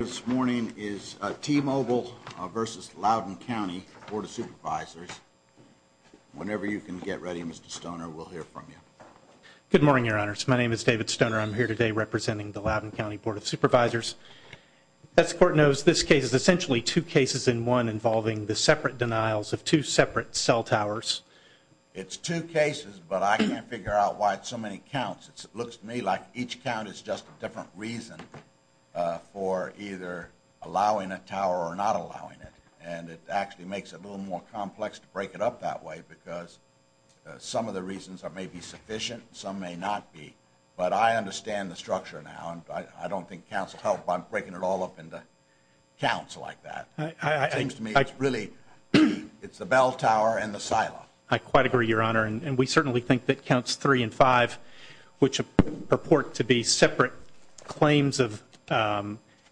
This morning is T-Mobile versus Loudoun County Board of Supervisors. Whenever you can get ready, Mr. Stoner, we'll hear from you. Good morning, your honors. My name is David Stoner. I'm here today representing the Loudoun County Board of Supervisors. As the court knows, this case is essentially two cases in one involving the separate denials of two separate cell towers. It's two cases, but I can't figure out why it's so many counts. It looks to me like each count is just a different reason for either allowing a tower or not allowing it. And it actually makes it a little more complex to break it up that way, because some of the reasons may be sufficient, some may not be. But I understand the structure now, and I don't think counts will help by breaking it all up into counts like that. It seems to me it's really the bell tower and the silo. I quite agree, your honor, and we certainly think that counts three and five, which purport to be separate claims of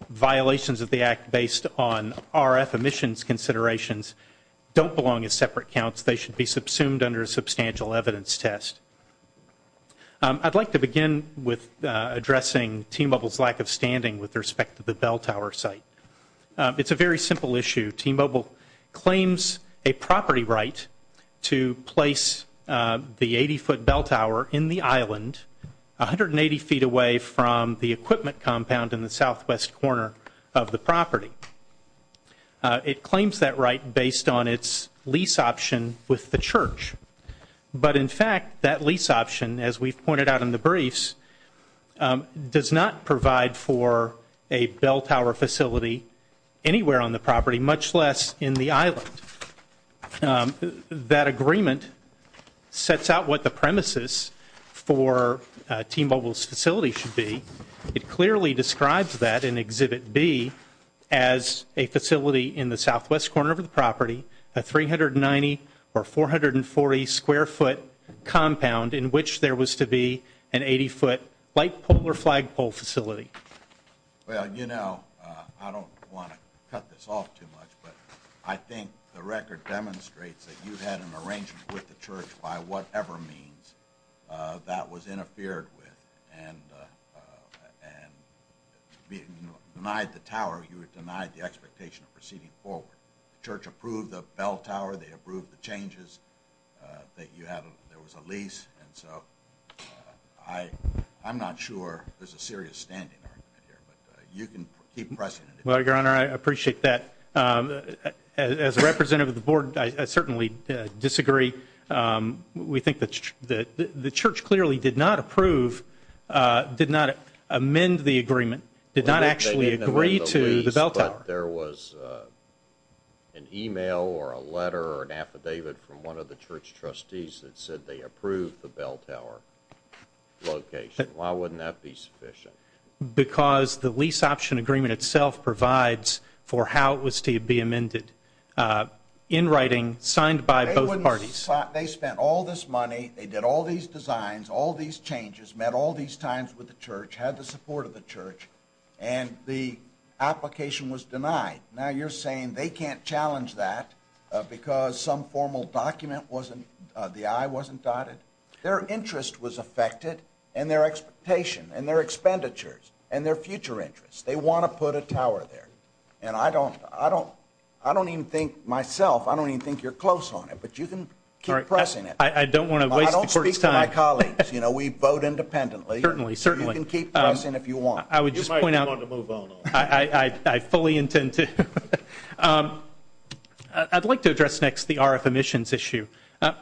violations of the act based on RF emissions considerations, don't belong as separate counts. They should be subsumed under a substantial evidence test. I'd like to begin with addressing T-Mobile's lack of standing with respect to the bell tower site. It's a very simple issue. T-Mobile claims a property right to place the 80 foot bell tower in the island, 180 feet away from the equipment compound in the southwest corner of the property. It claims that right based on its lease option with the church. But in fact, that lease option, as we've pointed out in the briefs, does not provide for a bell tower facility anywhere on the property, much less in the island. That agreement sets out what the premises for T-Mobile's facility should be. It clearly describes that in exhibit B as a facility in the southwest corner of the property, a 390 or 440 square foot compound in which there was to be an 80 foot light polar flagpole facility. Well, you know, I don't want to cut this off too much, but I think the record demonstrates that you had an arrangement with the church by whatever means that was interfered with and denied the tower. You were denied the expectation of proceeding forward. The church approved the bell tower, they approved the changes that you had, there was a lease. And so I'm not sure there's a serious standing argument here, but you can keep pressing. Well, your honor, I appreciate that. As a representative of the board, I certainly disagree. We think that the church clearly did not approve, did not amend the agreement, did not actually agree to the bell tower. There was an email or a letter or an affidavit from one of the church trustees that said they approved the bell tower location. Why wouldn't that be sufficient? Because the lease option agreement itself provides for how it was to be amended. In writing, signed by both parties. They spent all this money, they did all these designs, all these changes, met all these times with the church, had the support of the church. And the application was denied. Now you're saying they can't challenge that because some formal document wasn't, the I wasn't dotted? Their interest was affected, and their expectation, and their expenditures, and their future interests. They want to put a tower there. And I don't, I don't, I don't even think myself, I don't even think you're close on it. But you can keep pressing it. I don't want to waste the court's time. I don't speak for my colleagues. You know, we vote independently. Certainly, certainly. You can keep pressing if you want. I would just point out. You might want to move on. I fully intend to. I'd like to address next the RF emissions issue.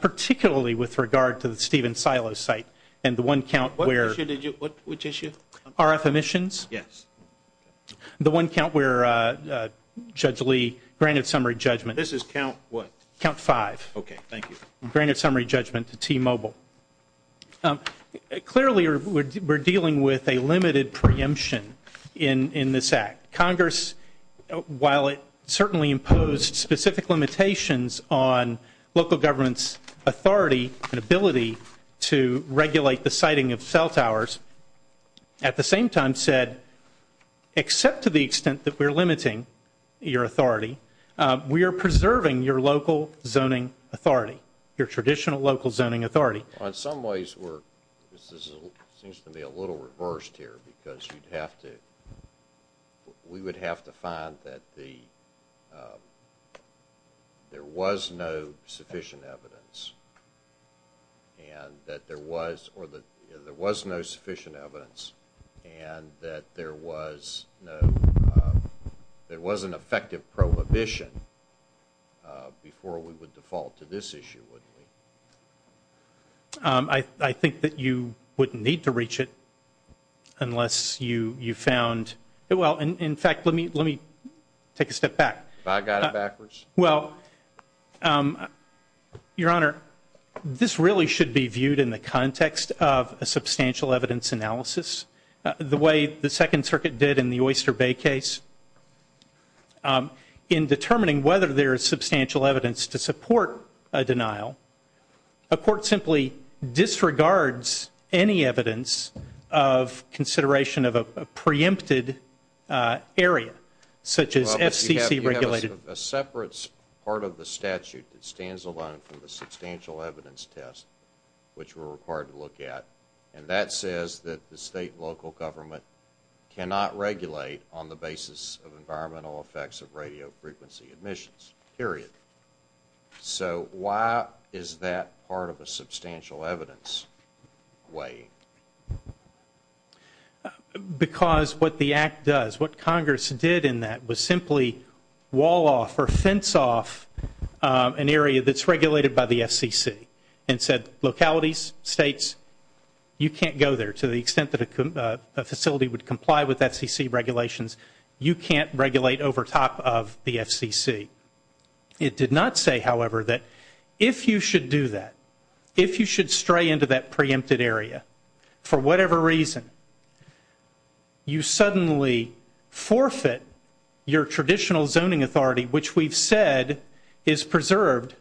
Particularly with regard to the Steven Silo site. And the one count where. What issue did you, which issue? RF emissions? Yes. The one count where Judge Lee granted summary judgment. This is count what? Count five. Okay, thank you. Granted summary judgment to T-Mobile. Clearly, we're dealing with a limited preemption in this act. Congress, while it certainly imposed specific limitations on local government's authority and ability to regulate the siting of cell towers, at the same time said, except to the extent that we're limiting your authority, we are preserving your local zoning authority. Your traditional local zoning authority. On some ways, we're, this seems to be a little reversed here. Because you'd have to, we would have to find that the, there was no sufficient evidence. And that there was, or that there was no sufficient evidence. And that there was no, there was an effective prohibition before we would default to this issue, wouldn't we? I, I think that you wouldn't need to reach it. Unless you, you found, well, in, in fact, let me, let me take a step back. I got it backwards. Well, your honor, this really should be viewed in the context of a substantial evidence analysis, the way the second circuit did in the Oyster Bay case. In determining whether there is substantial evidence to support a denial, a court simply disregards any evidence of consideration of a preempted area. Such as FCC regulated. You have a separate part of the statute that stands alone from the substantial evidence test, which we're required to look at. And that says that the state and local government cannot regulate on the basis of environmental effects of radio frequency admissions, period. So, why is that part of a substantial evidence weighing? Because what the act does, what Congress did in that was simply wall off or fence off an area that's regulated by the FCC. And said, localities, states, you can't go there to the extent that a, a facility would comply with FCC regulations. You can't regulate over top of the FCC. It did not say, however, that if you should do that, if you should stray into that preempted area, for whatever reason, you suddenly forfeit your traditional zoning authority, which we've said is preserved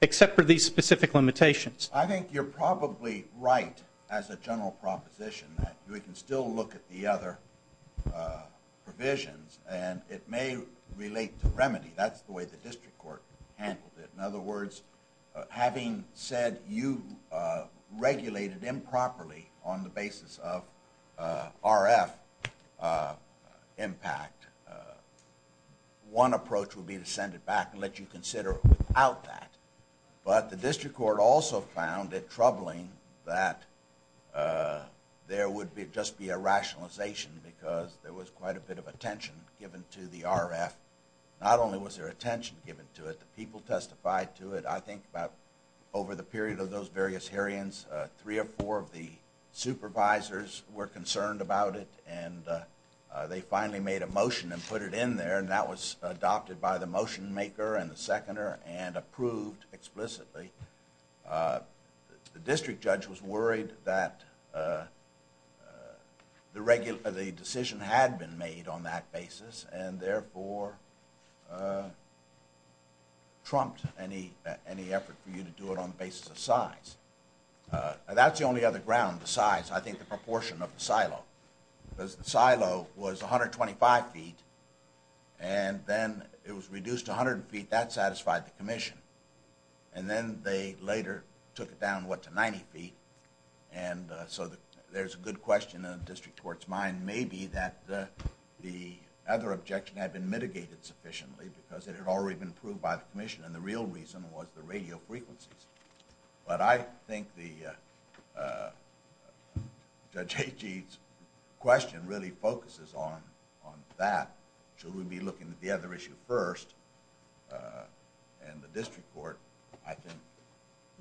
except for these specific limitations. I think you're probably right as a general proposition that we can still look at the other provisions, and it may relate to remedy. That's the way the district court handled it. In other words, having said you regulated improperly on the basis of RF impact. One approach would be to send it back and let you consider it without that. But the district court also found it troubling that there would be, must be a rationalization because there was quite a bit of attention given to the RF. Not only was there attention given to it, the people testified to it. I think about over the period of those various hearings, three or four of the supervisors were concerned about it. And they finally made a motion and put it in there and that was adopted by the motion maker and the seconder and approved explicitly. The district judge was worried that the decision had been made on that basis and therefore trumped any effort for you to do it on the basis of size. And that's the only other ground, the size. I think the proportion of the silo. Because the silo was 125 feet and then it was reduced to 100 feet. That satisfied the commission. And then they later took it down, what, to 90 feet. And so there's a good question in the district court's mind. Maybe that the other objection had been mitigated sufficiently because it had already been approved by the commission and the real reason was the radio frequencies. But I think the Judge Hagee's question really focuses on that. So we'll be looking at the other issue first and the district court. I think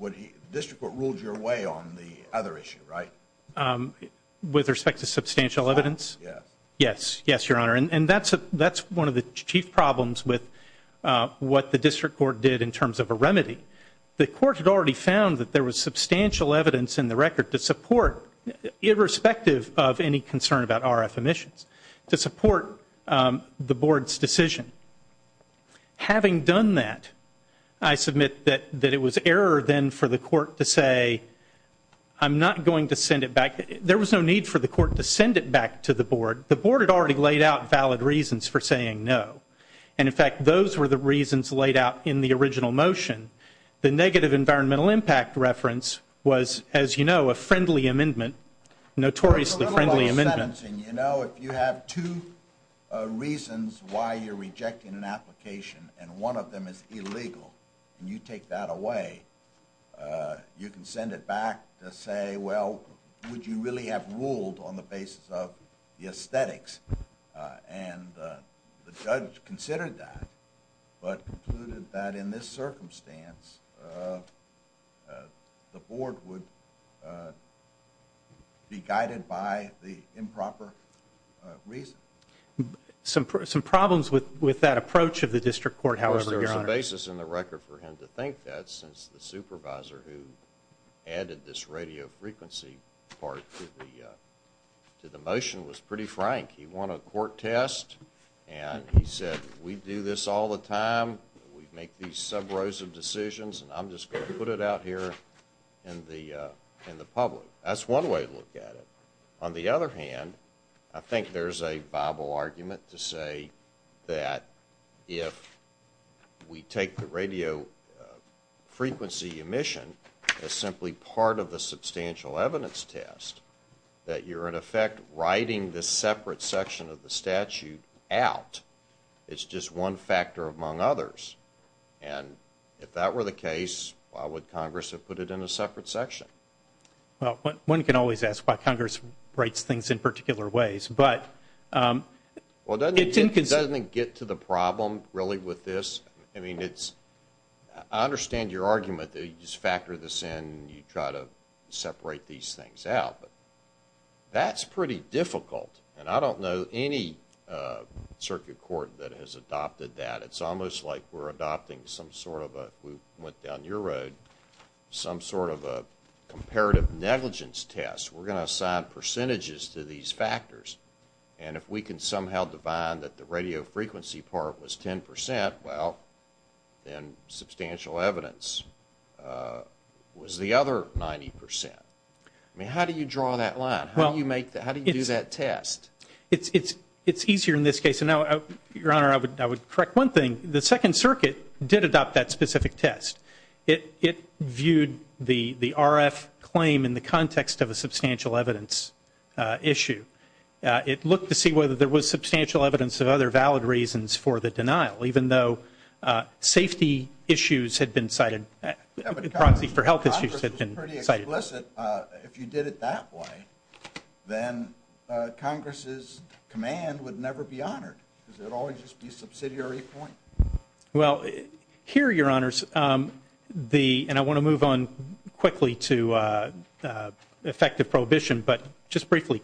the district court ruled your way on the other issue, right? With respect to substantial evidence? Yes. Yes, yes, your honor. And that's one of the chief problems with what the district court did in terms of a remedy. The court had already found that there was substantial evidence in the record to support, irrespective of any concern about RF emissions, to support the board's decision. Having done that, I submit that it was error then for the court to say, I'm not going to send it back. There was no need for the court to send it back to the board. The board had already laid out valid reasons for saying no. And in fact, those were the reasons laid out in the original motion. The negative environmental impact reference was, as you know, a friendly amendment, notoriously friendly amendment. Mr. Adamson, if you have two reasons why you're rejecting an application, and one of them is illegal, and you take that away, you can send it back to say, well, would you really have ruled on the basis of the aesthetics? And the judge considered that, but concluded that in this circumstance, the board would be guided by the improper reason. Some problems with that approach of the district court, however, your honor. There was some basis in the record for him to think that, since the supervisor who added this radio frequency part to the motion was pretty frank. He won a court test, and he said, we do this all the time. We make these sub rows of decisions, and I'm just going to put it out here in the public. That's one way to look at it. On the other hand, I think there's a viable argument to say that if we take the radio frequency emission as simply part of the substantial evidence test, that you're in effect writing this separate section of the statute out. It's just one factor among others, and if that were the case, why would Congress have put it in a separate section? Well, one can always ask why Congress writes things in particular ways, but. Well, doesn't it get to the problem, really, with this? I mean, it's, I understand your argument that you just factor this in and you try to separate these things out, but that's pretty difficult. And I don't know any circuit court that has adopted that. It's almost like we're adopting some sort of a, we went down your road, some sort of a comparative negligence test. We're going to assign percentages to these factors, and if we can somehow define that the radio frequency part was 10%, well, then substantial evidence was the other 90%. I mean, how do you draw that line? How do you make that, how do you do that test? It's easier in this case, and now, Your Honor, I would correct one thing. The Second Circuit did adopt that specific test. It viewed the RF claim in the context of a substantial evidence issue. It looked to see whether there was substantial evidence of other valid reasons for the denial, even though safety issues had been cited, and proxy for health issues had been cited. If you did it that way, then Congress's command would never be honored. It would always just be subsidiary point. Well, here, Your Honors, the, and I want to move on quickly to effective prohibition, but just briefly.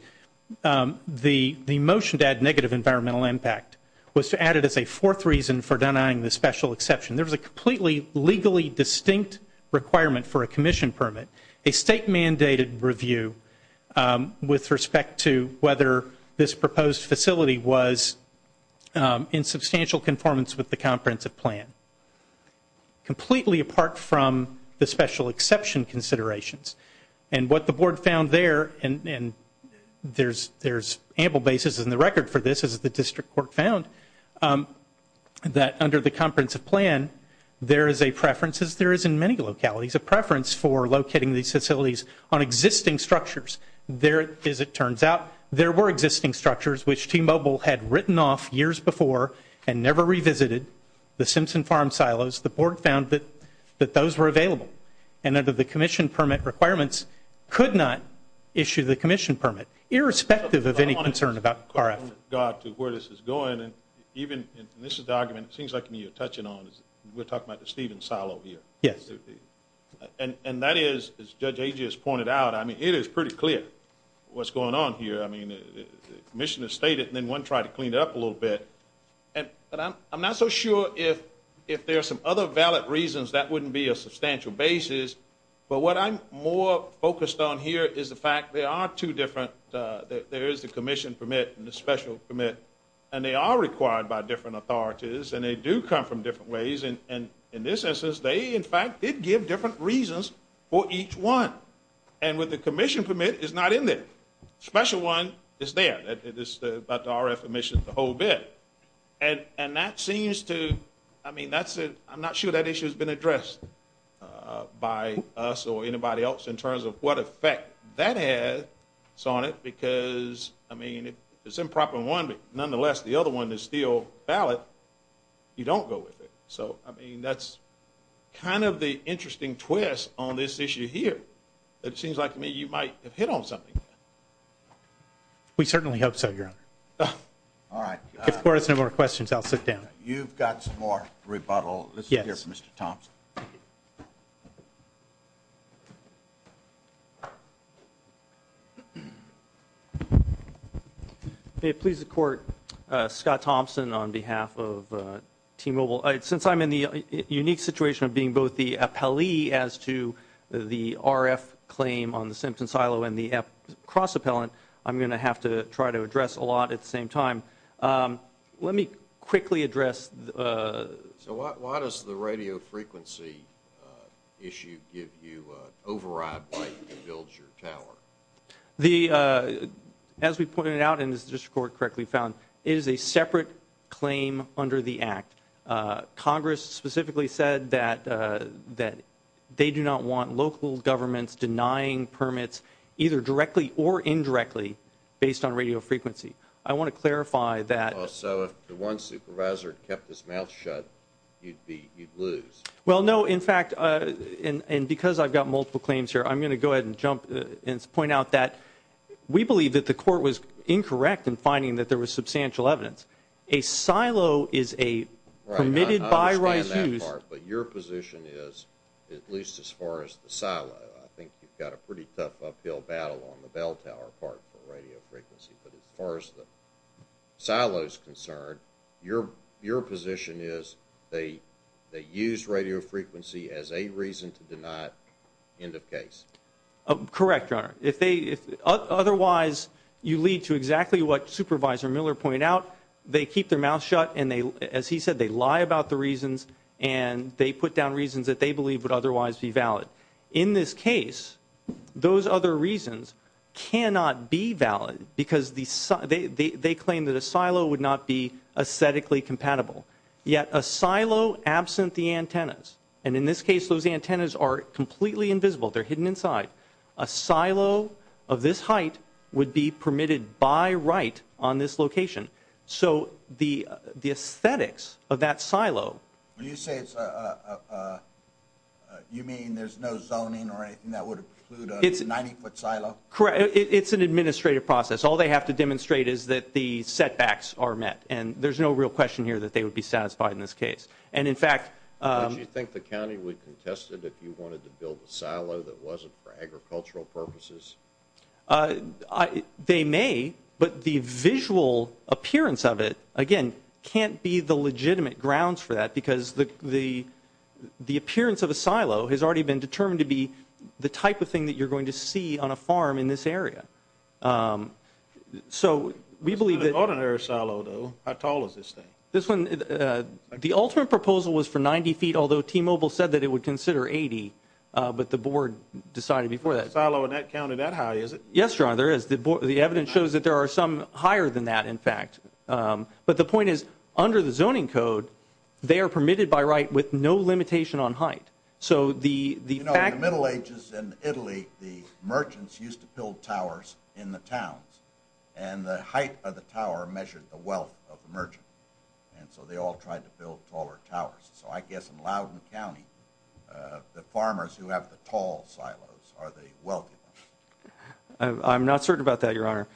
The motion to add negative environmental impact was added as a fourth reason for denying the special exception. There was a completely legally distinct requirement for a commission permit, a state mandated review with respect to whether this proposed facility was in substantial conformance with the comprehensive plan, completely apart from the special exception considerations. And what the board found there, and there's ample basis in the record for this as the district court found, that under the comprehensive plan, there is a preference, as there is in many localities, a preference for locating these facilities on existing structures. There, as it turns out, there were existing structures which T-Mobile had written off years before and never revisited, the Simpson Farm silos. The board found that those were available. And under the commission permit requirements, could not issue the commission permit, irrespective of any concern about RF. Where this is going, and even, and this is the argument, it seems like to me you're touching on, is we're talking about the Steven silo here. Yes. And that is, as Judge Agius pointed out, I mean, it is pretty clear what's going on here. I mean, the commission has stated, and then one tried to clean it up a little bit. And I'm not so sure if there are some other valid reasons that wouldn't be a substantial basis. But what I'm more focused on here is the fact there are two different, there is the commission permit and the special permit. And they are required by different authorities, and they do come from different ways. And in this instance, they, in fact, did give different reasons for each one. And with the commission permit, it's not in there. Special one is there. It is about the RF emissions, the whole bit. And that seems to, I mean, that's, I'm not sure that issue's been addressed by us or because, I mean, it's improper in one, but nonetheless, the other one is still valid. You don't go with it. So, I mean, that's kind of the interesting twist on this issue here. It seems like to me you might have hit on something. We certainly hope so, Your Honor. All right. If there's no more questions, I'll sit down. You've got some more rebuttal. Yes. Let's hear from Mr. Thompson. May it please the Court, Scott Thompson on behalf of T-Mobile. Since I'm in the unique situation of being both the appellee as to the RF claim on the Simpson silo and the cross-appellant, I'm going to have to try to address a lot at the same time. Let me quickly address the... So why does the radio frequency issue give you an override while you build your tower? As we pointed out and as the District Court correctly found, it is a separate claim under the Act. Congress specifically said that they do not want local governments denying permits either directly or indirectly based on radio frequency. I want to clarify that... So if the one supervisor kept his mouth shut, you'd lose? Well, no. In fact, and because I've got multiple claims here, I'm going to go ahead and jump and point out that we believe that the Court was incorrect in finding that there was substantial evidence. A silo is a permitted by-right use... Right. I understand that part, but your position is, at least as far as the silo, I think you've got a pretty tough uphill battle on the bell tower part for radio frequency, but as far as the silo is concerned, your position is they use radio frequency as a reason to deny it. End of case. Correct, Your Honor. Otherwise you lead to exactly what Supervisor Miller pointed out. They keep their mouth shut and as he said, they lie about the reasons and they put down reasons that they believe would otherwise be valid. In this case, those other reasons cannot be valid because they claim that a silo would not be aesthetically compatible, yet a silo absent the antennas, and in this case those antennas are completely invisible, they're hidden inside, a silo of this height would be permitted by-right on this location. So the aesthetics of that silo... When you say it's a, you mean there's no zoning or anything that would include a 90-foot silo? Correct. It's an administrative process. All they have to demonstrate is that the setbacks are met, and there's no real question here that they would be satisfied in this case. And in fact... Would you think the county would contest it if you wanted to build a silo that wasn't for agricultural purposes? They may, but the visual appearance of it, again, can't be the legitimate grounds for the, because the appearance of a silo has already been determined to be the type of thing that you're going to see on a farm in this area. So we believe that- It's not an ordinary silo, though. How tall is this thing? This one, the ultimate proposal was for 90 feet, although T-Mobile said that it would consider 80, but the board decided before that. Is the silo in that county that high, is it? Yes, Your Honor, there is. The evidence shows that there are some higher than that, in fact. But the point is, under the zoning code, they are permitted by right with no limitation on height. So the fact- You know, in the Middle Ages in Italy, the merchants used to build towers in the towns, and the height of the tower measured the wealth of the merchant, and so they all tried to build taller towers. So I guess in Loudoun County, the farmers who have the tall silos are the wealthy ones. I'm not certain about that, Your Honor.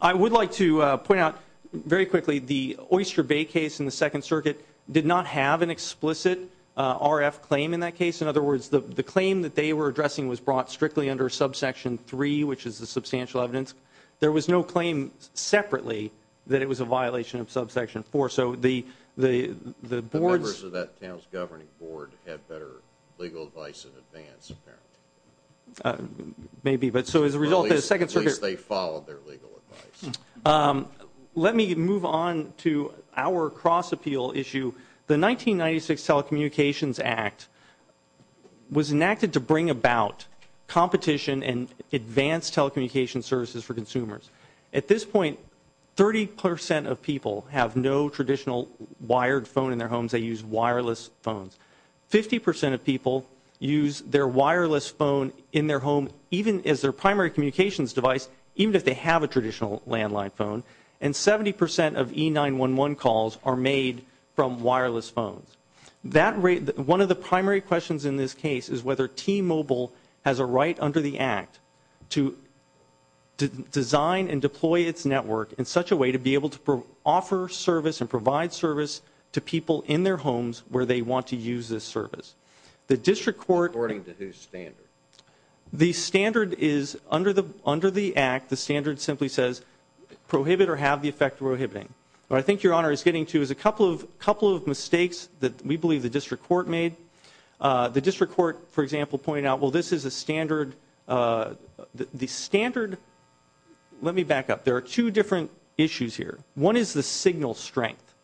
I would like to point out, very quickly, the Oyster Bay case in the Second Circuit did not have an explicit RF claim in that case. In other words, the claim that they were addressing was brought strictly under Subsection 3, which is the substantial evidence. There was no claim separately that it was a violation of Subsection 4. So the board- The members of that town's governing board had better legal advice in advance, apparently. Maybe, but so as a result, the Second Circuit- Let me move on to our cross-appeal issue. The 1996 Telecommunications Act was enacted to bring about competition in advanced telecommunication services for consumers. At this point, 30 percent of people have no traditional wired phone in their homes. They use wireless phones. Fifty percent of people use their wireless phone in their home, even as their primary communications device, even if they have a traditional landline phone. And 70 percent of E911 calls are made from wireless phones. One of the primary questions in this case is whether T-Mobile has a right under the Act to design and deploy its network in such a way to be able to offer service and provide service to people in their homes where they want to use this service. The district court- According to whose standard? The standard is, under the Act, the standard simply says, prohibit or have the effect of prohibiting. What I think Your Honor is getting to is a couple of mistakes that we believe the district court made. The district court, for example, pointed out, well, this is a standard- The standard- Let me back up. There are two different issues here. One is the signal strength.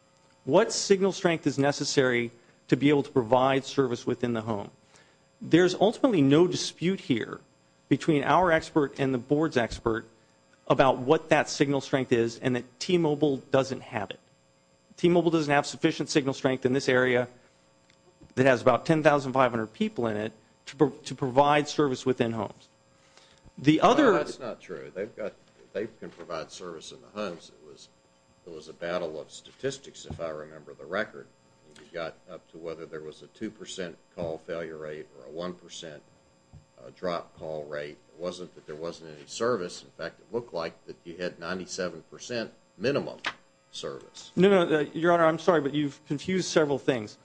What signal strength is necessary to be able to provide service within the home? There's ultimately no dispute here between our expert and the Board's expert about what that signal strength is and that T-Mobile doesn't have it. T-Mobile doesn't have sufficient signal strength in this area that has about 10,500 people in it to provide service within homes. The other- No, that's not true. They've got- They can provide service in the homes. It was a battle of statistics, if I remember the record. You got up to whether there was a 2% call failure rate or a 1% drop call rate. It wasn't that there wasn't any service. In fact, it looked like that you had 97% minimum service. No, Your Honor, I'm sorry, but you've confused several things.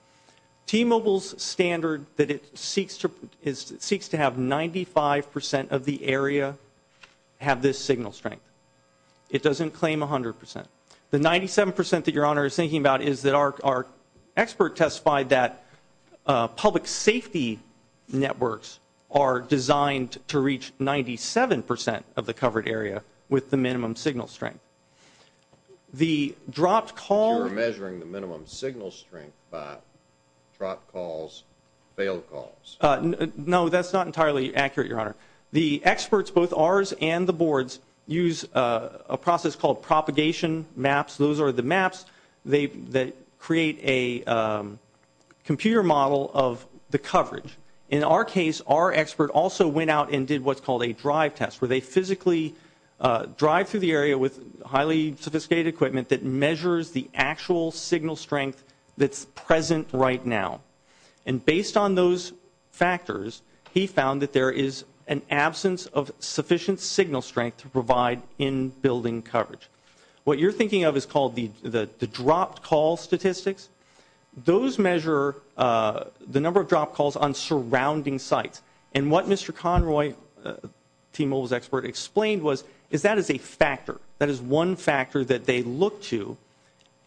T-Mobile's standard that it seeks to have 95% of the area have this signal strength. It doesn't claim 100%. The 97% that Your Honor is thinking about is that our expert testified that public safety networks are designed to reach 97% of the covered area with the minimum signal strength. The dropped call- You're measuring the minimum signal strength by dropped calls, failed calls. No, that's not entirely accurate, Your Honor. The experts, both ours and the board's, use a process called propagation maps. Those are the maps that create a computer model of the coverage. In our case, our expert also went out and did what's called a drive test, where they physically drive through the area with highly sophisticated equipment that measures the actual signal strength that's present right now. And based on those factors, he found that there is an absence of sufficient signal strength to provide in-building coverage. What you're thinking of is called the dropped call statistics. Those measure the number of dropped calls on surrounding sites. And what Mr. Conroy, T-Mobile's expert, explained was is that is a factor, that is one factor that they look to.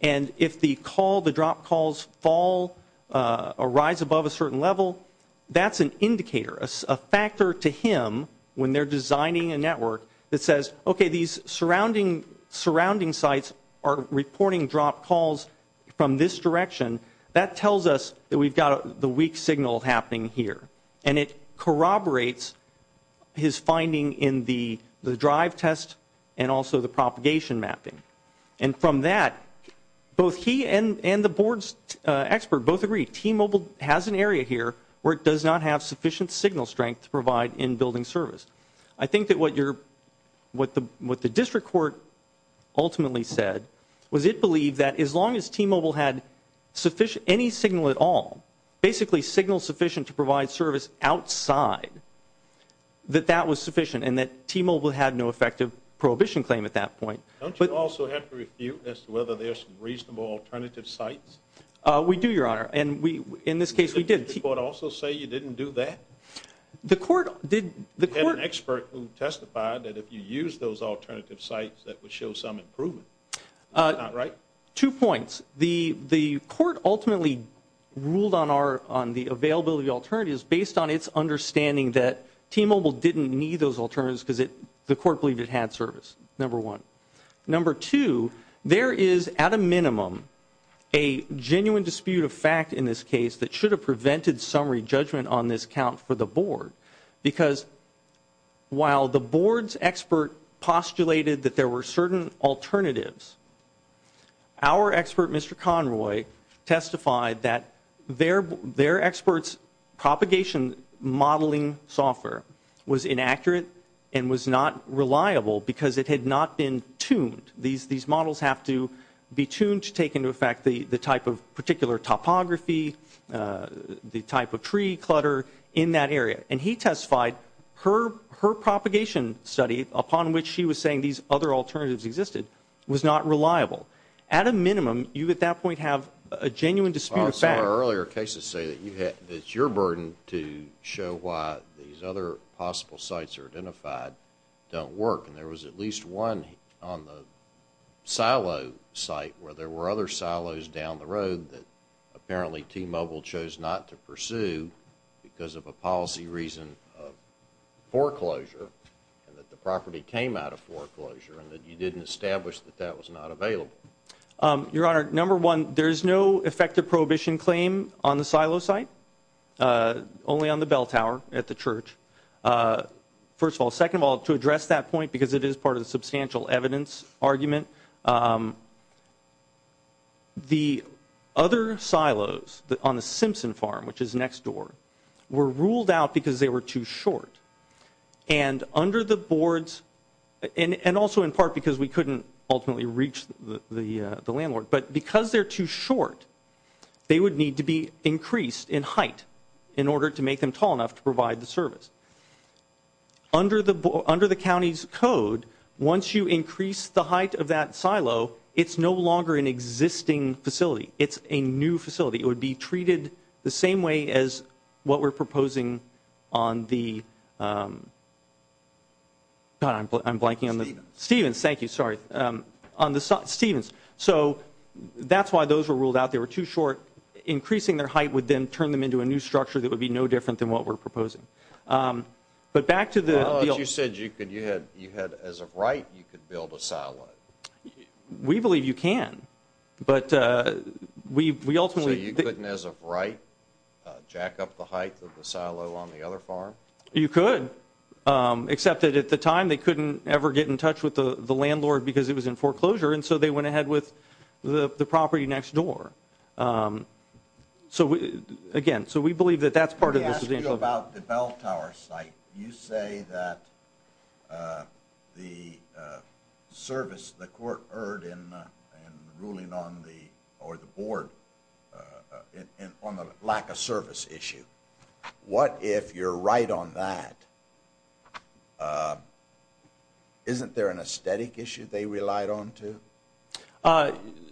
And if the dropped calls fall or rise above a certain level, that's an indicator, a factor to him when they're designing a network that says, okay, these surrounding sites are reporting dropped calls from this direction. That tells us that we've got the weak signal happening here. And it corroborates his finding in the drive test and also the propagation mapping. And from that, both he and the board's expert both agree T-Mobile has an area here where it does not have sufficient signal strength to provide in-building service. I think that what you're, what the district court ultimately said was it believed that as long as T-Mobile had sufficient, any signal at all, basically signal sufficient to provide service outside, that that was sufficient and that T-Mobile had no effective prohibition claim at that point. Don't you also have to refute as to whether there's some reasonable alternative sites? We do, Your Honor. And in this case, we did. Did the district court also say you didn't do that? The court did. We had an expert who testified that if you use those alternative sites, that would show some improvement. Is that not right? Two points. The court ultimately ruled on the availability of alternatives based on its understanding that T-Mobile didn't need those alternatives because the court believed it had service, number one. Number two, there is at a minimum a genuine dispute of fact in this case that should have prevented summary judgment on this count for the board. Because while the board's expert postulated that there were certain alternatives, our expert, Mr. Conroy, testified that their expert's propagation modeling software was inaccurate and was not reliable because it had not been tuned. These models have to be tuned to take into effect the type of particular topography, the type of tree clutter in that area. And he testified her propagation study, upon which she was saying these other alternatives existed, was not reliable. At a minimum, you at that point have a genuine dispute of fact. I saw earlier cases say that it's your burden to show why these other possible sites are identified don't work. And there was at least one on the silo site where there were other silos down the road that apparently T-Mobile chose not to pursue because of a policy reason of foreclosure and that the property came out of foreclosure and that you didn't establish that that was not available. Your Honor, number one, there is no effective prohibition claim on the silo site, only on the bell tower at the church. First of all, second of all, to address that point, because it is part of the substantial evidence argument, the other silos on the Simpson farm, which is next door, were ruled out because they were too short. And under the boards, and also in part because we couldn't ultimately reach the landlord, but because they're too short, they would need to be increased in height in order to make them tall enough to provide the service. Under the county's code, once you increase the height of that silo, it's no longer an existing facility. It's a new facility. It would be treated the same way as what we're proposing on the, God, I'm blanking on the – Stevens. Stevens. Thank you. Sorry. On the – Stevens. So that's why those were ruled out. They were too short. Increasing their height would then turn them into a new structure that would be no different than what we're proposing. But back to the – Well, as you said, you had, as of right, you could build a silo. We believe you can. But we ultimately – So you couldn't, as of right, jack up the height of the silo on the other farm? You could, except that at the time, they couldn't ever get in touch with the landlord because it was in foreclosure. And so they went ahead with the property next door. So again, so we believe that that's part of the – Let me ask you about the bell tower site. You say that the service the court heard in ruling on the – or the board on the lack of service issue. What if you're right on that? Isn't there an aesthetic issue they relied on, too?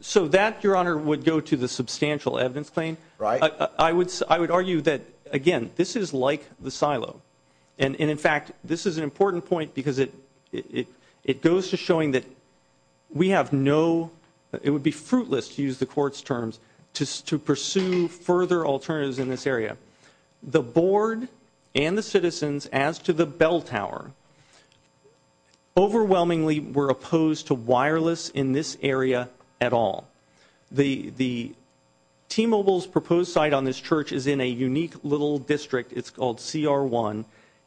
So that, Your Honor, would go to the substantial evidence claim. Right. I would argue that, again, this is like the silo. And in fact, this is an important point because it goes to showing that we have no – it would be fruitless to use the court's terms to pursue further alternatives in this area. The board and the citizens, as to the bell tower, overwhelmingly were opposed to wireless in this area at all. The T-Mobile's proposed site on this church is in a unique little district. It's called CR1.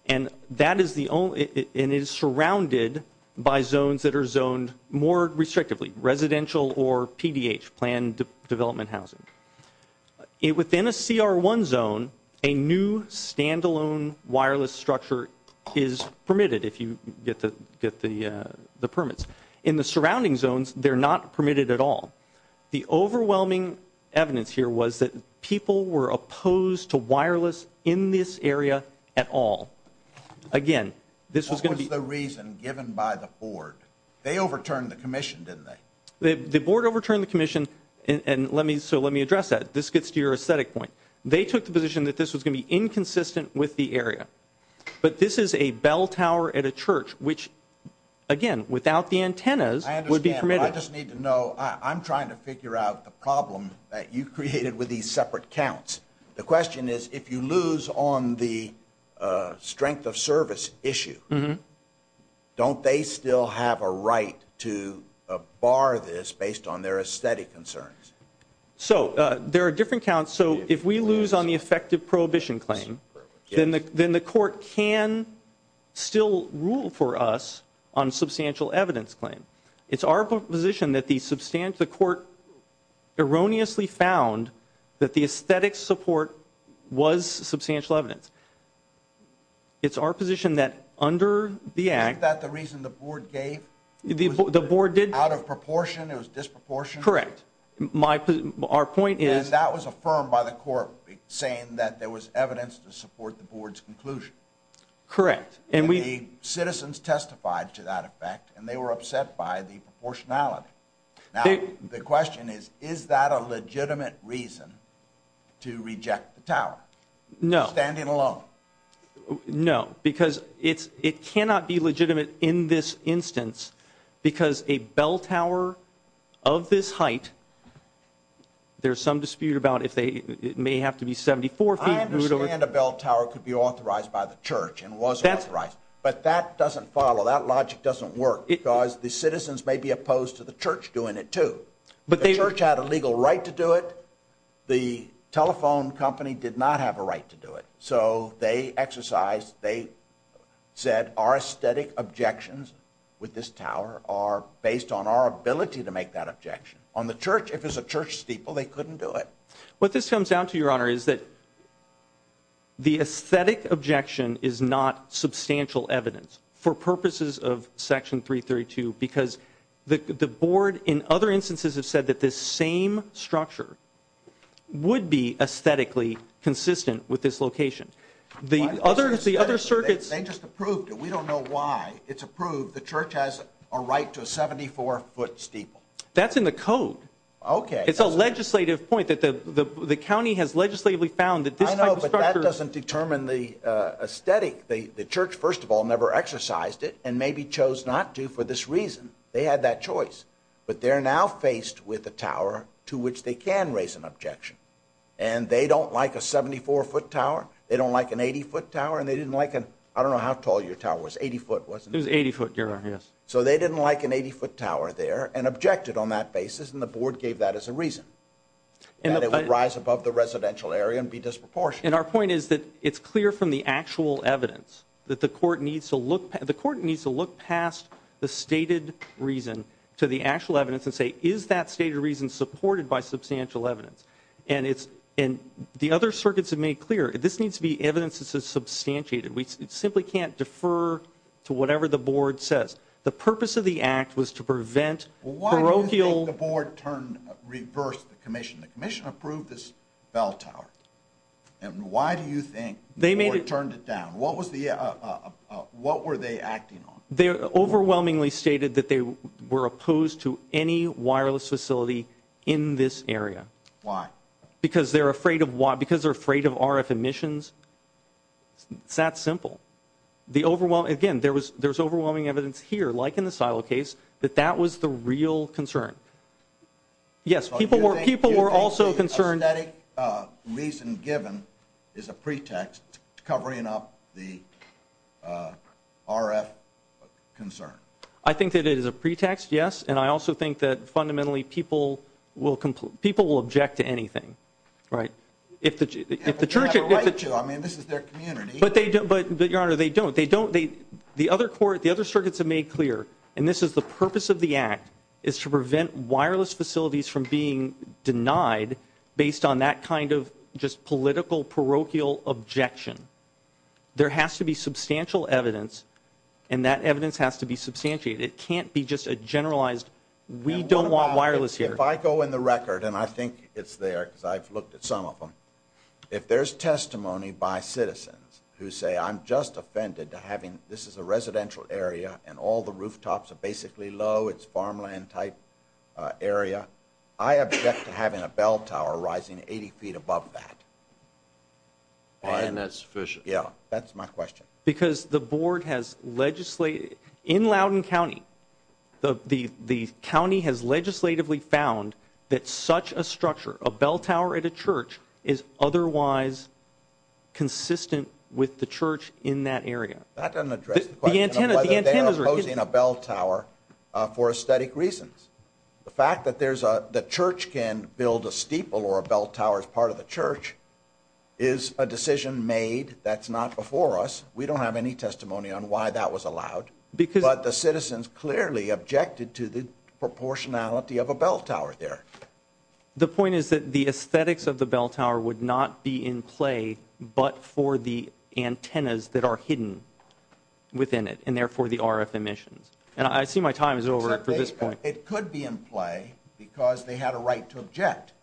And that is the only – and it is surrounded by zones that are zoned more restrictively, residential or PDH, planned development housing. Within a CR1 zone, a new standalone wireless structure is permitted if you get the permits. In the surrounding zones, they're not permitted at all. The overwhelming evidence here was that people were opposed to wireless in this area at all. Again, this was going to be – What was the reason given by the board? They overturned the commission, didn't they? The board overturned the commission, and let me – so let me address that. This gets to your aesthetic point. They took the position that this was going to be inconsistent with the area. But this is a bell tower at a church, which, again, without the antennas, would be permitted. I understand, but I just need to know – I'm trying to figure out the problem that you created with these separate counts. The question is, if you lose on the strength of service issue, don't they still have a right to bar this based on their aesthetic concerns? So there are different counts. So if we lose on the effective prohibition claim, then the court can still rule for us on a substantial evidence claim. It's our position that the court erroneously found that the aesthetic support was substantial evidence. It's our position that under the act – Isn't that the reason the board gave? The board did – Out of proportion, it was disproportionate? Correct. My – our point is – And that was affirmed by the court saying that there was evidence to support the board's conclusion. Correct. And the citizens testified to that effect, and they were upset by the proportionality. Now, the question is, is that a legitimate reason to reject the tower? No. Standing alone? No. Because it's – it cannot be legitimate in this instance because a bell tower of this height – there's some dispute about if they – it may have to be 74 feet. I understand a bell tower could be authorized by the church and was authorized. But that doesn't follow. That logic doesn't work because the citizens may be opposed to the church doing it, too. But they – The church had a legal right to do it. The telephone company did not have a right to do it. So they exercised – they said our aesthetic objections with this tower are based on our ability to make that objection. On the church, if it's a church steeple, they couldn't do it. What this comes down to, Your Honor, is that the aesthetic objection is not substantial evidence for purposes of Section 332 because the board, in other instances, has said that this same structure would be aesthetically consistent with this location. The other – the other circuits – They just approved it. We don't know why it's approved. The church has a right to a 74-foot steeple. That's in the code. Okay. It's a legislative point that the county has legislatively found that this type of structure – I know, but that doesn't determine the aesthetic. The church, first of all, never exercised it and maybe chose not to for this reason. They had that choice. But they're now faced with a tower to which they can raise an objection. And they don't like a 74-foot tower, they don't like an 80-foot tower, and they didn't like an – I don't know how tall your tower was. 80-foot, wasn't it? It was 80-foot, Your Honor. Yes. So they didn't like an 80-foot tower there and objected on that basis and the board gave that as a reason that it would rise above the residential area and be disproportionate. And our point is that it's clear from the actual evidence that the court needs to look past the stated reason to the actual evidence and say, is that stated reason supported by substantial evidence? And the other circuits have made clear, this needs to be evidence that's substantiated. We simply can't defer to whatever the board says. The purpose of the act was to prevent parochial – Why do you think the board turned – reversed the commission? The commission approved this bell tower. And why do you think the board turned it down? What was the – what were they acting on? They overwhelmingly stated that they were opposed to any wireless facility in this area. Why? Because they're afraid of – because they're afraid of RF emissions. It's that simple. The overwhelming – again, there was – there's overwhelming evidence here, like in the silo case, that that was the real concern. Yes, people were – people were also concerned – the RF concern. I think that it is a pretext, yes. And I also think that fundamentally people will – people will object to anything, right? If the – if the – They have a right to. I mean, this is their community. But they don't – but, Your Honor, they don't. They don't – they – the other court – the other circuits have made clear, and this is the purpose of the act, is to prevent wireless facilities from being denied based on that kind of just political, parochial objection. There has to be substantial evidence, and that evidence has to be substantiated. It can't be just a generalized, we don't want wireless here. If I go in the record, and I think it's there because I've looked at some of them, if there's testimony by citizens who say, I'm just offended to having – this is a residential area and all the rooftops are basically low, it's farmland-type area. I object to having a bell tower rising 80 feet above that. And that's sufficient. Yeah. That's my question. Because the board has legislated – in Loudoun County, the county has legislatively found that such a structure, a bell tower at a church, is otherwise consistent with the church in that area. That doesn't address the question of whether they are opposing a bell tower for aesthetic reasons. The fact that there's a – the church can build a steeple or a bell tower as part of the church is a decision made that's not before us. We don't have any testimony on why that was allowed. But the citizens clearly objected to the proportionality of a bell tower there. The point is that the aesthetics of the bell tower would not be in play but for the antennas that are hidden within it, and therefore the RF emissions. And I see my time is over for this point. But it could be in play because they had a right to object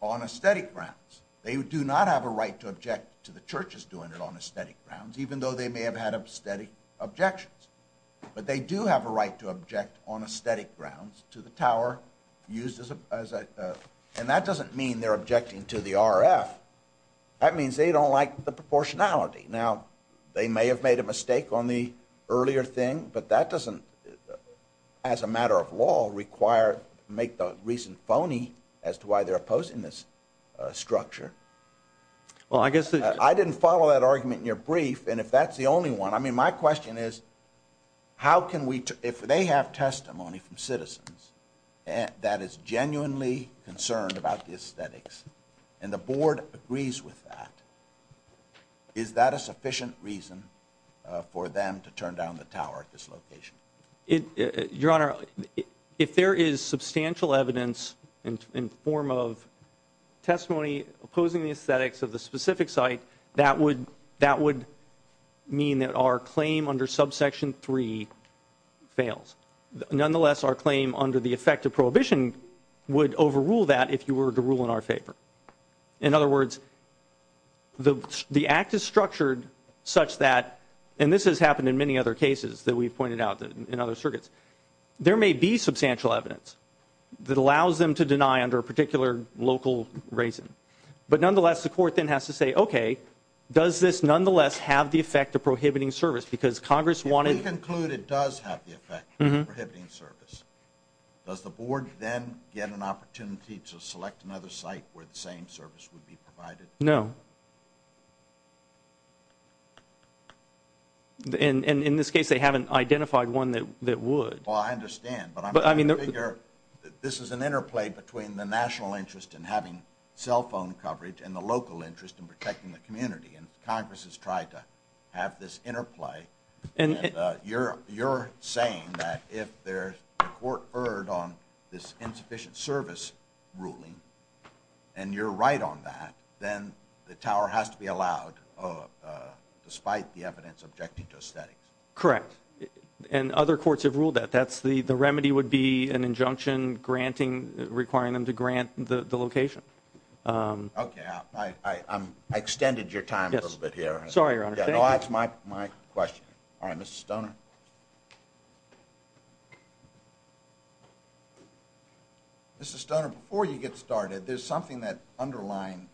on aesthetic grounds. They do not have a right to object to the churches doing it on aesthetic grounds, even though they may have had aesthetic objections. But they do have a right to object on aesthetic grounds to the tower used as a – and that doesn't mean they're objecting to the RF. That means they don't like the proportionality. Now, they may have made a mistake on the earlier thing, but that doesn't, as a matter of law, require – make the reason phony as to why they're opposing this structure. Well, I guess the – I didn't follow that argument in your brief. And if that's the only one – I mean, my question is how can we – if they have testimony from citizens that is genuinely concerned about the aesthetics and the board agrees with that, is that a sufficient reason for them to turn down the tower at this location? Your Honor, if there is substantial evidence in form of testimony opposing the aesthetics of the specific site, that would – that would mean that our claim under subsection three fails. Nonetheless, our claim under the effect of prohibition would overrule that if you were to rule in our favor. In other words, the act is structured such that – and this has happened in many other cases that we've pointed out in other circuits. There may be substantial evidence that allows them to deny under a particular local reason. But nonetheless, the court then has to say, okay, does this nonetheless have the effect of prohibiting service? Because Congress wanted – If we conclude it does have the effect of prohibiting service, does the board then get an opportunity to select another site where the same service would be provided? No. In this case, they haven't identified one that would. Well, I understand. But I'm trying to figure – this is an interplay between the national interest in having cell phone coverage and the local interest in protecting the community. And Congress has tried to have this interplay. And you're saying that if the court erred on this insufficient service ruling, and you're right on that, then the tower has to be allowed, despite the evidence objecting to aesthetics? Correct. And other courts have ruled that. That's the – the remedy would be an injunction granting – requiring them to grant the location. Okay. Sorry, Your Honor. That's my question. All right. Mr. Stoner? Mr. Stoner, before you get started, there's something that – underlying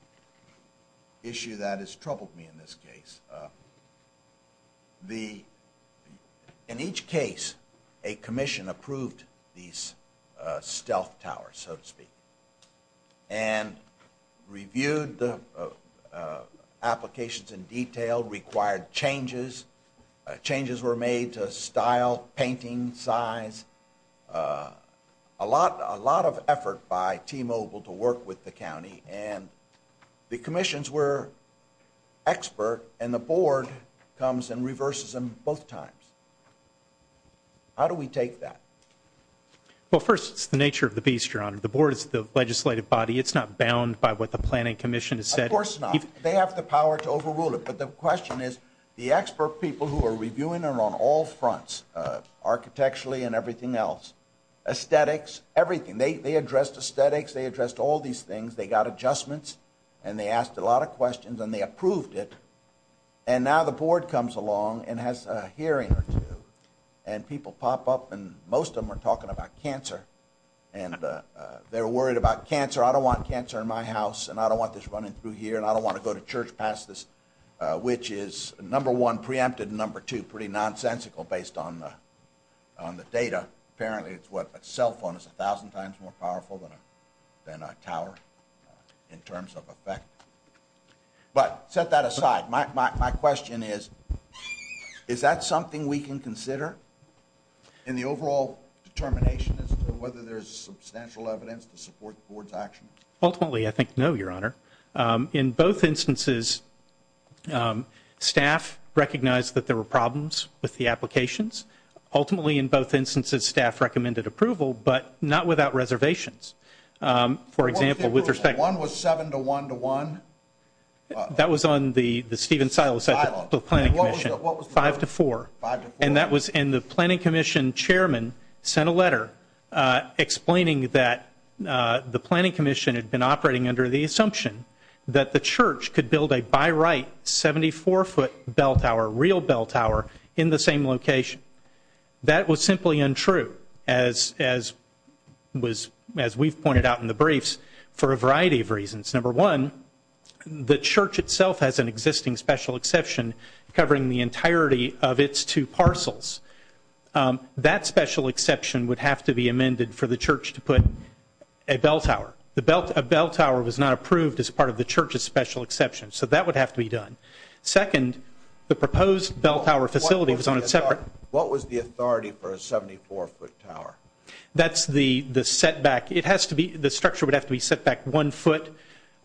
issue that has troubled me in this case. In each case, a commission approved these stealth towers, so to speak, and reviewed the applications in detail, required changes. Changes were made to style, painting, size. A lot of effort by T-Mobile to work with the county, and the commissions were expert, and the board comes and reverses them both times. How do we take that? Well, first, it's the nature of the beast, Your Honor. The board is the legislative body. It's not bound by what the planning commission has said. Of course not. They have the power to overrule it. But the question is, the expert people who are reviewing are on all fronts, architecturally and everything else, aesthetics, everything. They addressed aesthetics. They addressed all these things. They got adjustments, and they asked a lot of questions, and they approved it. And now the board comes along and has a hearing or two, and people pop up, and most of them are talking about cancer, and they're worried about cancer. I don't want cancer in my house, and I don't want this running through here, and I don't want to go to church past this, which is number one, preempted, and number two, pretty nonsensical based on the data. Apparently, it's what a cell phone is 1,000 times more powerful than a tower in terms of effect. But set that aside, my question is, is that something we can consider in the overall determination as to whether there's substantial evidence to support the board's action? Ultimately, I think no, Your Honor. In both instances, staff recognized that there were problems with the applications. Ultimately, in both instances, staff recommended approval, but not without reservations. For example, with respect to... What was the approval? One was seven to one to one? That was on the Stephen Silas Ethical Planning Commission, five to four, and the Planning Commission chairman sent a letter explaining that the Planning Commission had been operating under the assumption that the church could build a by-right 74-foot bell tower, real bell tower, in the same location. That was simply untrue, as we've pointed out in the briefs, for a variety of reasons. Number one, the church itself has an existing special exception covering the entirety of That special exception would have to be amended for the church to put a bell tower. A bell tower was not approved as part of the church's special exception, so that would have to be done. Second, the proposed bell tower facility was on a separate... What was the authority for a 74-foot tower? That's the setback. It has to be... The structure would have to be set back one foot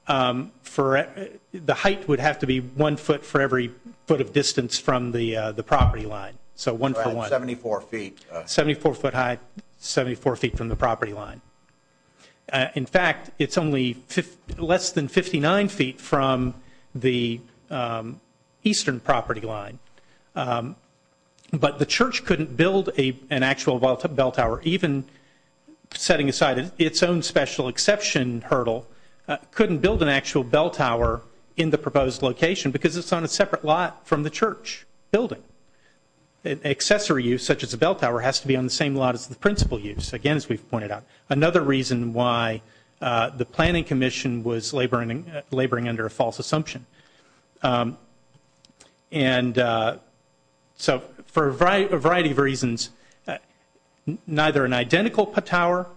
for... The height would have to be one foot for every foot of distance from the property line, so one for one. 74 feet. 74-foot height, 74 feet from the property line. In fact, it's only less than 59 feet from the eastern property line. But the church couldn't build an actual bell tower, even setting aside its own special exception hurdle, couldn't build an actual bell tower in the proposed location because it's on a separate lot from the church building. Accessory use, such as a bell tower, has to be on the same lot as the principal use, again as we've pointed out, another reason why the Planning Commission was laboring under a false assumption. And so, for a variety of reasons, neither an identical tower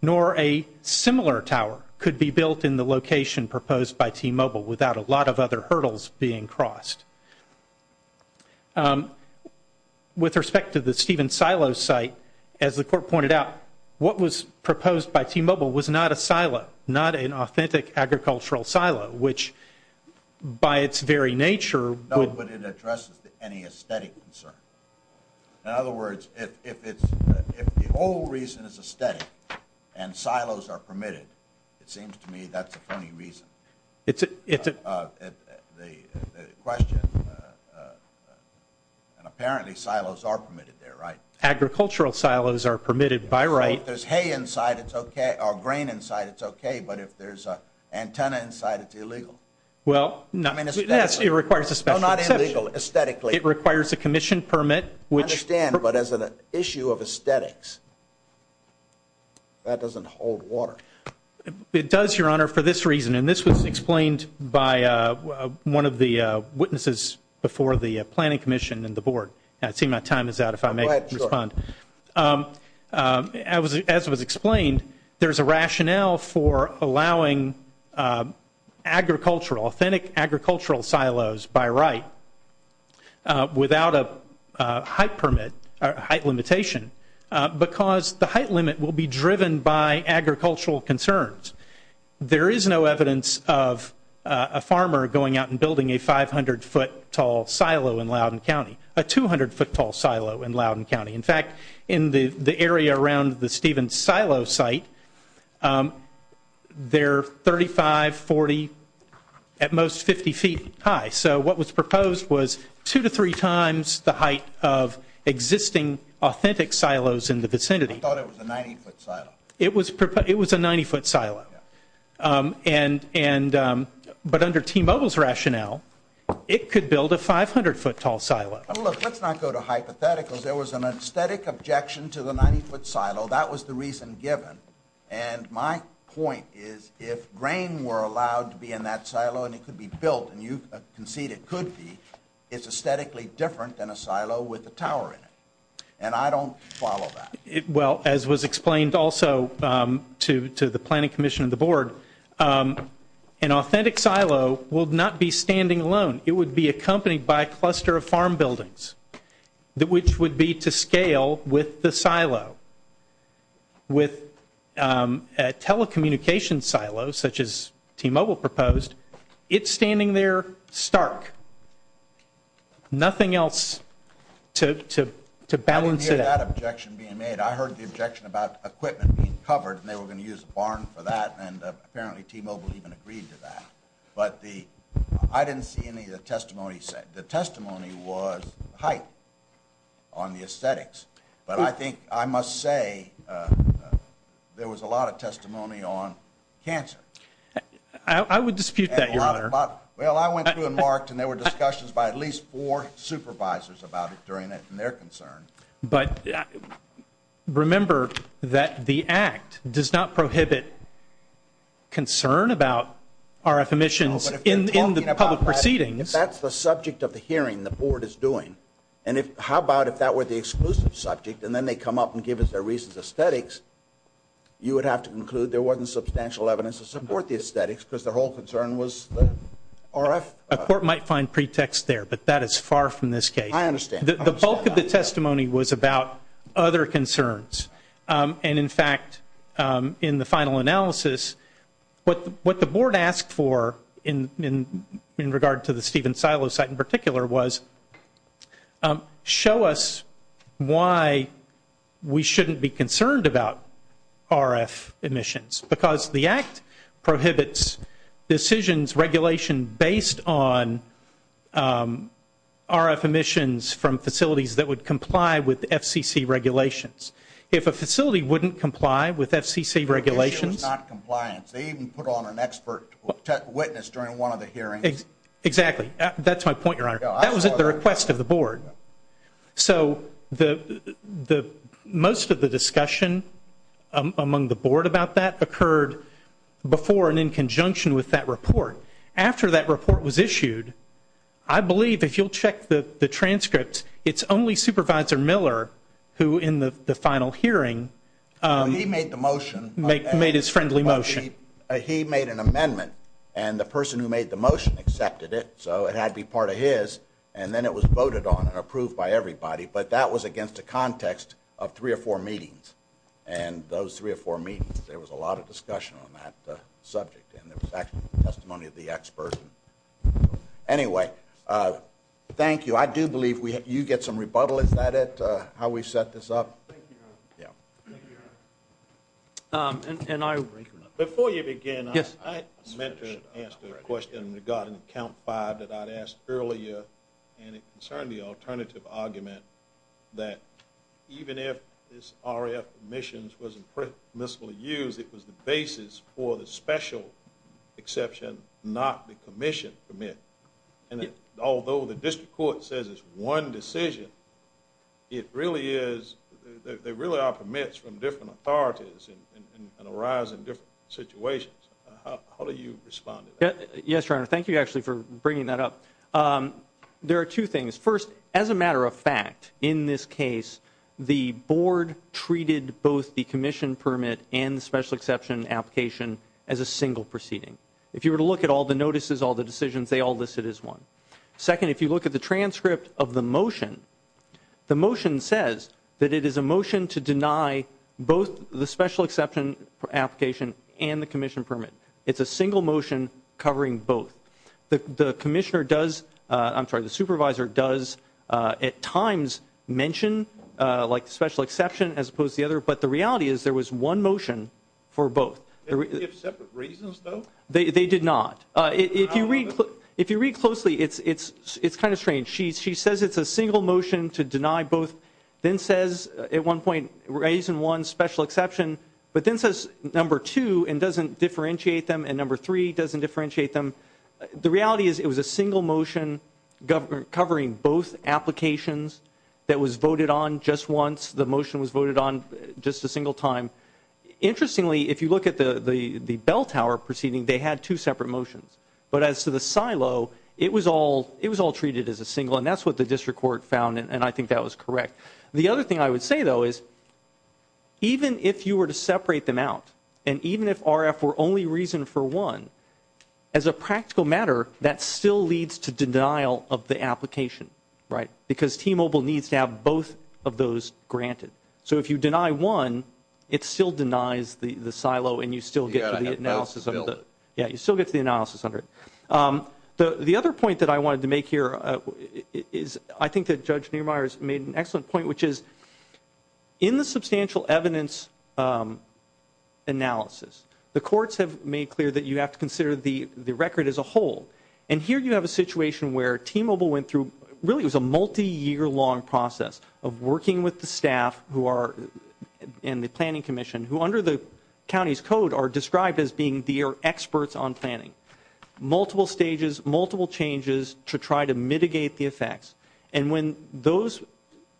nor a similar tower could be built in the location proposed by T-Mobile without a lot of other hurdles being crossed. With respect to the Stephen Silo site, as the Court pointed out, what was proposed by T-Mobile was not a silo, not an authentic agricultural silo, which, by its very nature... No, but it addresses any aesthetic concern. In other words, if the whole reason is aesthetic, and silos are permitted, it seems to me that's a funny reason. It's a... The question, and apparently silos are permitted there, right? Agricultural silos are permitted, by right. Well, if there's hay inside, it's okay, or grain inside, it's okay, but if there's antenna inside, it's illegal. Well, not... I mean, aesthetically. Yes, it requires a special exception. No, not illegal. Aesthetically. It requires a commission permit, which... I understand, but as an issue of aesthetics, that doesn't hold water. It does, Your Honor, for this reason, and this was explained by one of the witnesses before the Planning Commission and the Board. I'd say my time is out if I may respond. Go ahead, sure. As was explained, there's a rationale for allowing agricultural, authentic agricultural silos, by right, without a height permit, height limitation, because the height limit will be driven by agricultural concerns. There is no evidence of a farmer going out and building a 500-foot tall silo in Loudoun County, a 200-foot tall silo in Loudoun County. In fact, in the area around the Stevens silo site, they're 35, 40, at most 50 feet high. So what was proposed was two to three times the height of existing authentic silos in the vicinity. I thought it was a 90-foot silo. It was a 90-foot silo. But under T-Mobile's rationale, it could build a 500-foot tall silo. Look, let's not go to hypotheticals. There was an aesthetic objection to the 90-foot silo. That was the reason given. And my point is, if grain were allowed to be in that silo and it could be built, and you concede it could be, it's aesthetically different than a silo with a tower in it. And I don't follow that. Well, as was explained also to the Planning Commission and the Board, an authentic silo will not be standing alone. It would be accompanied by a cluster of farm buildings, which would be to scale with the silo. With a telecommunications silo, such as T-Mobile proposed, it's standing there stark. Nothing else to balance it out. I didn't hear that objection being made. I heard the objection about equipment being covered, and they were going to use a barn for that. And apparently T-Mobile even agreed to that. But I didn't see any of the testimony said. The testimony was hype on the aesthetics. But I think I must say there was a lot of testimony on cancer. I would dispute that, Your Honor. Well, I went through and marked, and there were discussions by at least four supervisors about it during their concern. But remember that the Act does not prohibit concern about RF emissions in the public proceedings. That's the subject of the hearing the Board is doing. And how about if that were the exclusive subject, and then they come up and give us their reasons of aesthetics, you would have to conclude there wasn't substantial evidence to support the aesthetics because the whole concern was the RF. A court might find pretext there, but that is far from this case. I understand. The bulk of the testimony was about other concerns. And in fact, in the final analysis, what the Board asked for in regard to the Stephen Silo site in particular was, show us why we shouldn't be concerned about RF emissions. Because the Act prohibits decisions, regulation based on RF emissions from facilities that would comply with FCC regulations. If a facility wouldn't comply with FCC regulations. It was not compliance. They even put on an expert witness during one of the hearings. Exactly. That's my point, Your Honor. That was at the request of the Board. So, most of the discussion among the Board about that occurred before and in conjunction with that report. After that report was issued, I believe if you'll check the transcript, it's only Supervisor Miller who in the final hearing made his friendly motion. He made an amendment, and the person who made the motion accepted it, so it had to be part of his. And then it was voted on and approved by everybody. But that was against the context of three or four meetings. And those three or four meetings, there was a lot of discussion on that subject, and there was testimony of the expert. Anyway, thank you. I do believe you get some rebuttal. Is that it, how we set this up? Thank you, Your Honor. Before you begin, I meant to ask a question regarding count five that I'd asked earlier and it concerned the alternative argument that even if this RF permissions wasn't permissibly used, it was the basis for the special exception, not the commission permit. And although the District Court says it's one decision, it really is, there really are permits from different authorities and arise in different situations. How do you respond to that? Yes, Your Honor. Thank you, actually, for bringing that up. There are two things. First, as a matter of fact, in this case, the board treated both the commission permit and the special exception application as a single proceeding. If you were to look at all the notices, all the decisions, they all listed as one. Second, if you look at the transcript of the motion, the motion says that it is a motion to deny both the special exception application and the commission permit. It's a single motion covering both. The commissioner does, I'm sorry, the supervisor does at times mention special exception as opposed to the other, but the reality is there was one motion for both. Did they have separate reasons, though? They did not. If you read closely, it's kind of strange. She says it's a single motion to deny both, then says at one point, reason one, special exception, but then says number two and doesn't differentiate them and number three doesn't differentiate them. The reality is it was a single motion covering both applications that was voted on just once. The motion was voted on just a single time. Interestingly, if you look at the bell tower proceeding, they had two separate motions, but as to the silo, it was all treated as a single, and that's what the district court found, and I think that was correct. The other thing I would say, though, is even if you were to separate them out and even if RF were only reason for one, as a practical matter, that still leads to denial of the application, right, because T-Mobile needs to have both of those granted. So if you deny one, it still denies the silo, and you still get to the analysis under it. The other point that I wanted to make here is I think that Judge Niemeyer has made an important point, which is in the substantial evidence analysis, the courts have made clear that you have to consider the record as a whole, and here you have a situation where T-Mobile went through, really it was a multiyear-long process of working with the staff who are in the planning commission who under the county's code are described as being their experts on planning, multiple stages, multiple changes to try to mitigate the effects, and when those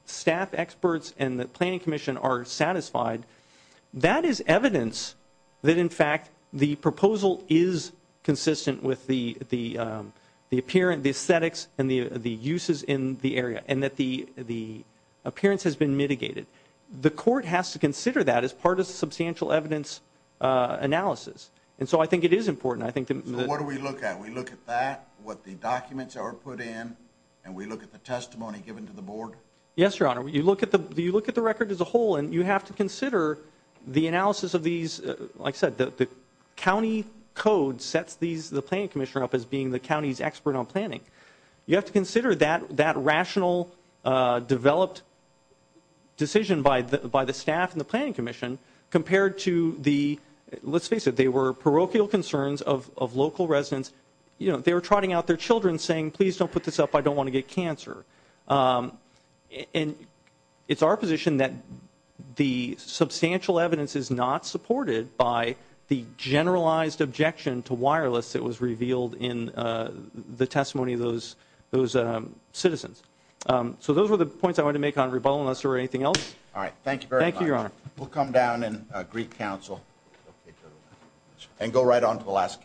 staff experts and the planning commission are satisfied, that is evidence that in fact the proposal is consistent with the appearance, the aesthetics, and the uses in the area, and that the appearance has been mitigated. The court has to consider that as part of the substantial evidence analysis, and so I think it is important. I think that... So what do we look at? We look at that, what the documents are put in, and we look at the testimony given to the board? Yes, Your Honor. You look at the record as a whole, and you have to consider the analysis of these, like I said, the county code sets the planning commissioner up as being the county's expert on planning. You have to consider that rational, developed decision by the staff and the planning commission compared to the, let's face it, they were parochial concerns of local residents, you know, they were trotting out their children saying, please don't put this up, I don't And it's our position that the substantial evidence is not supported by the generalized objection to wireless that was revealed in the testimony of those citizens. So those were the points I wanted to make on rebuttal, unless there were anything else? All right, thank you very much. Thank you, Your Honor. We'll come down and agree counsel, and go right on to the last case.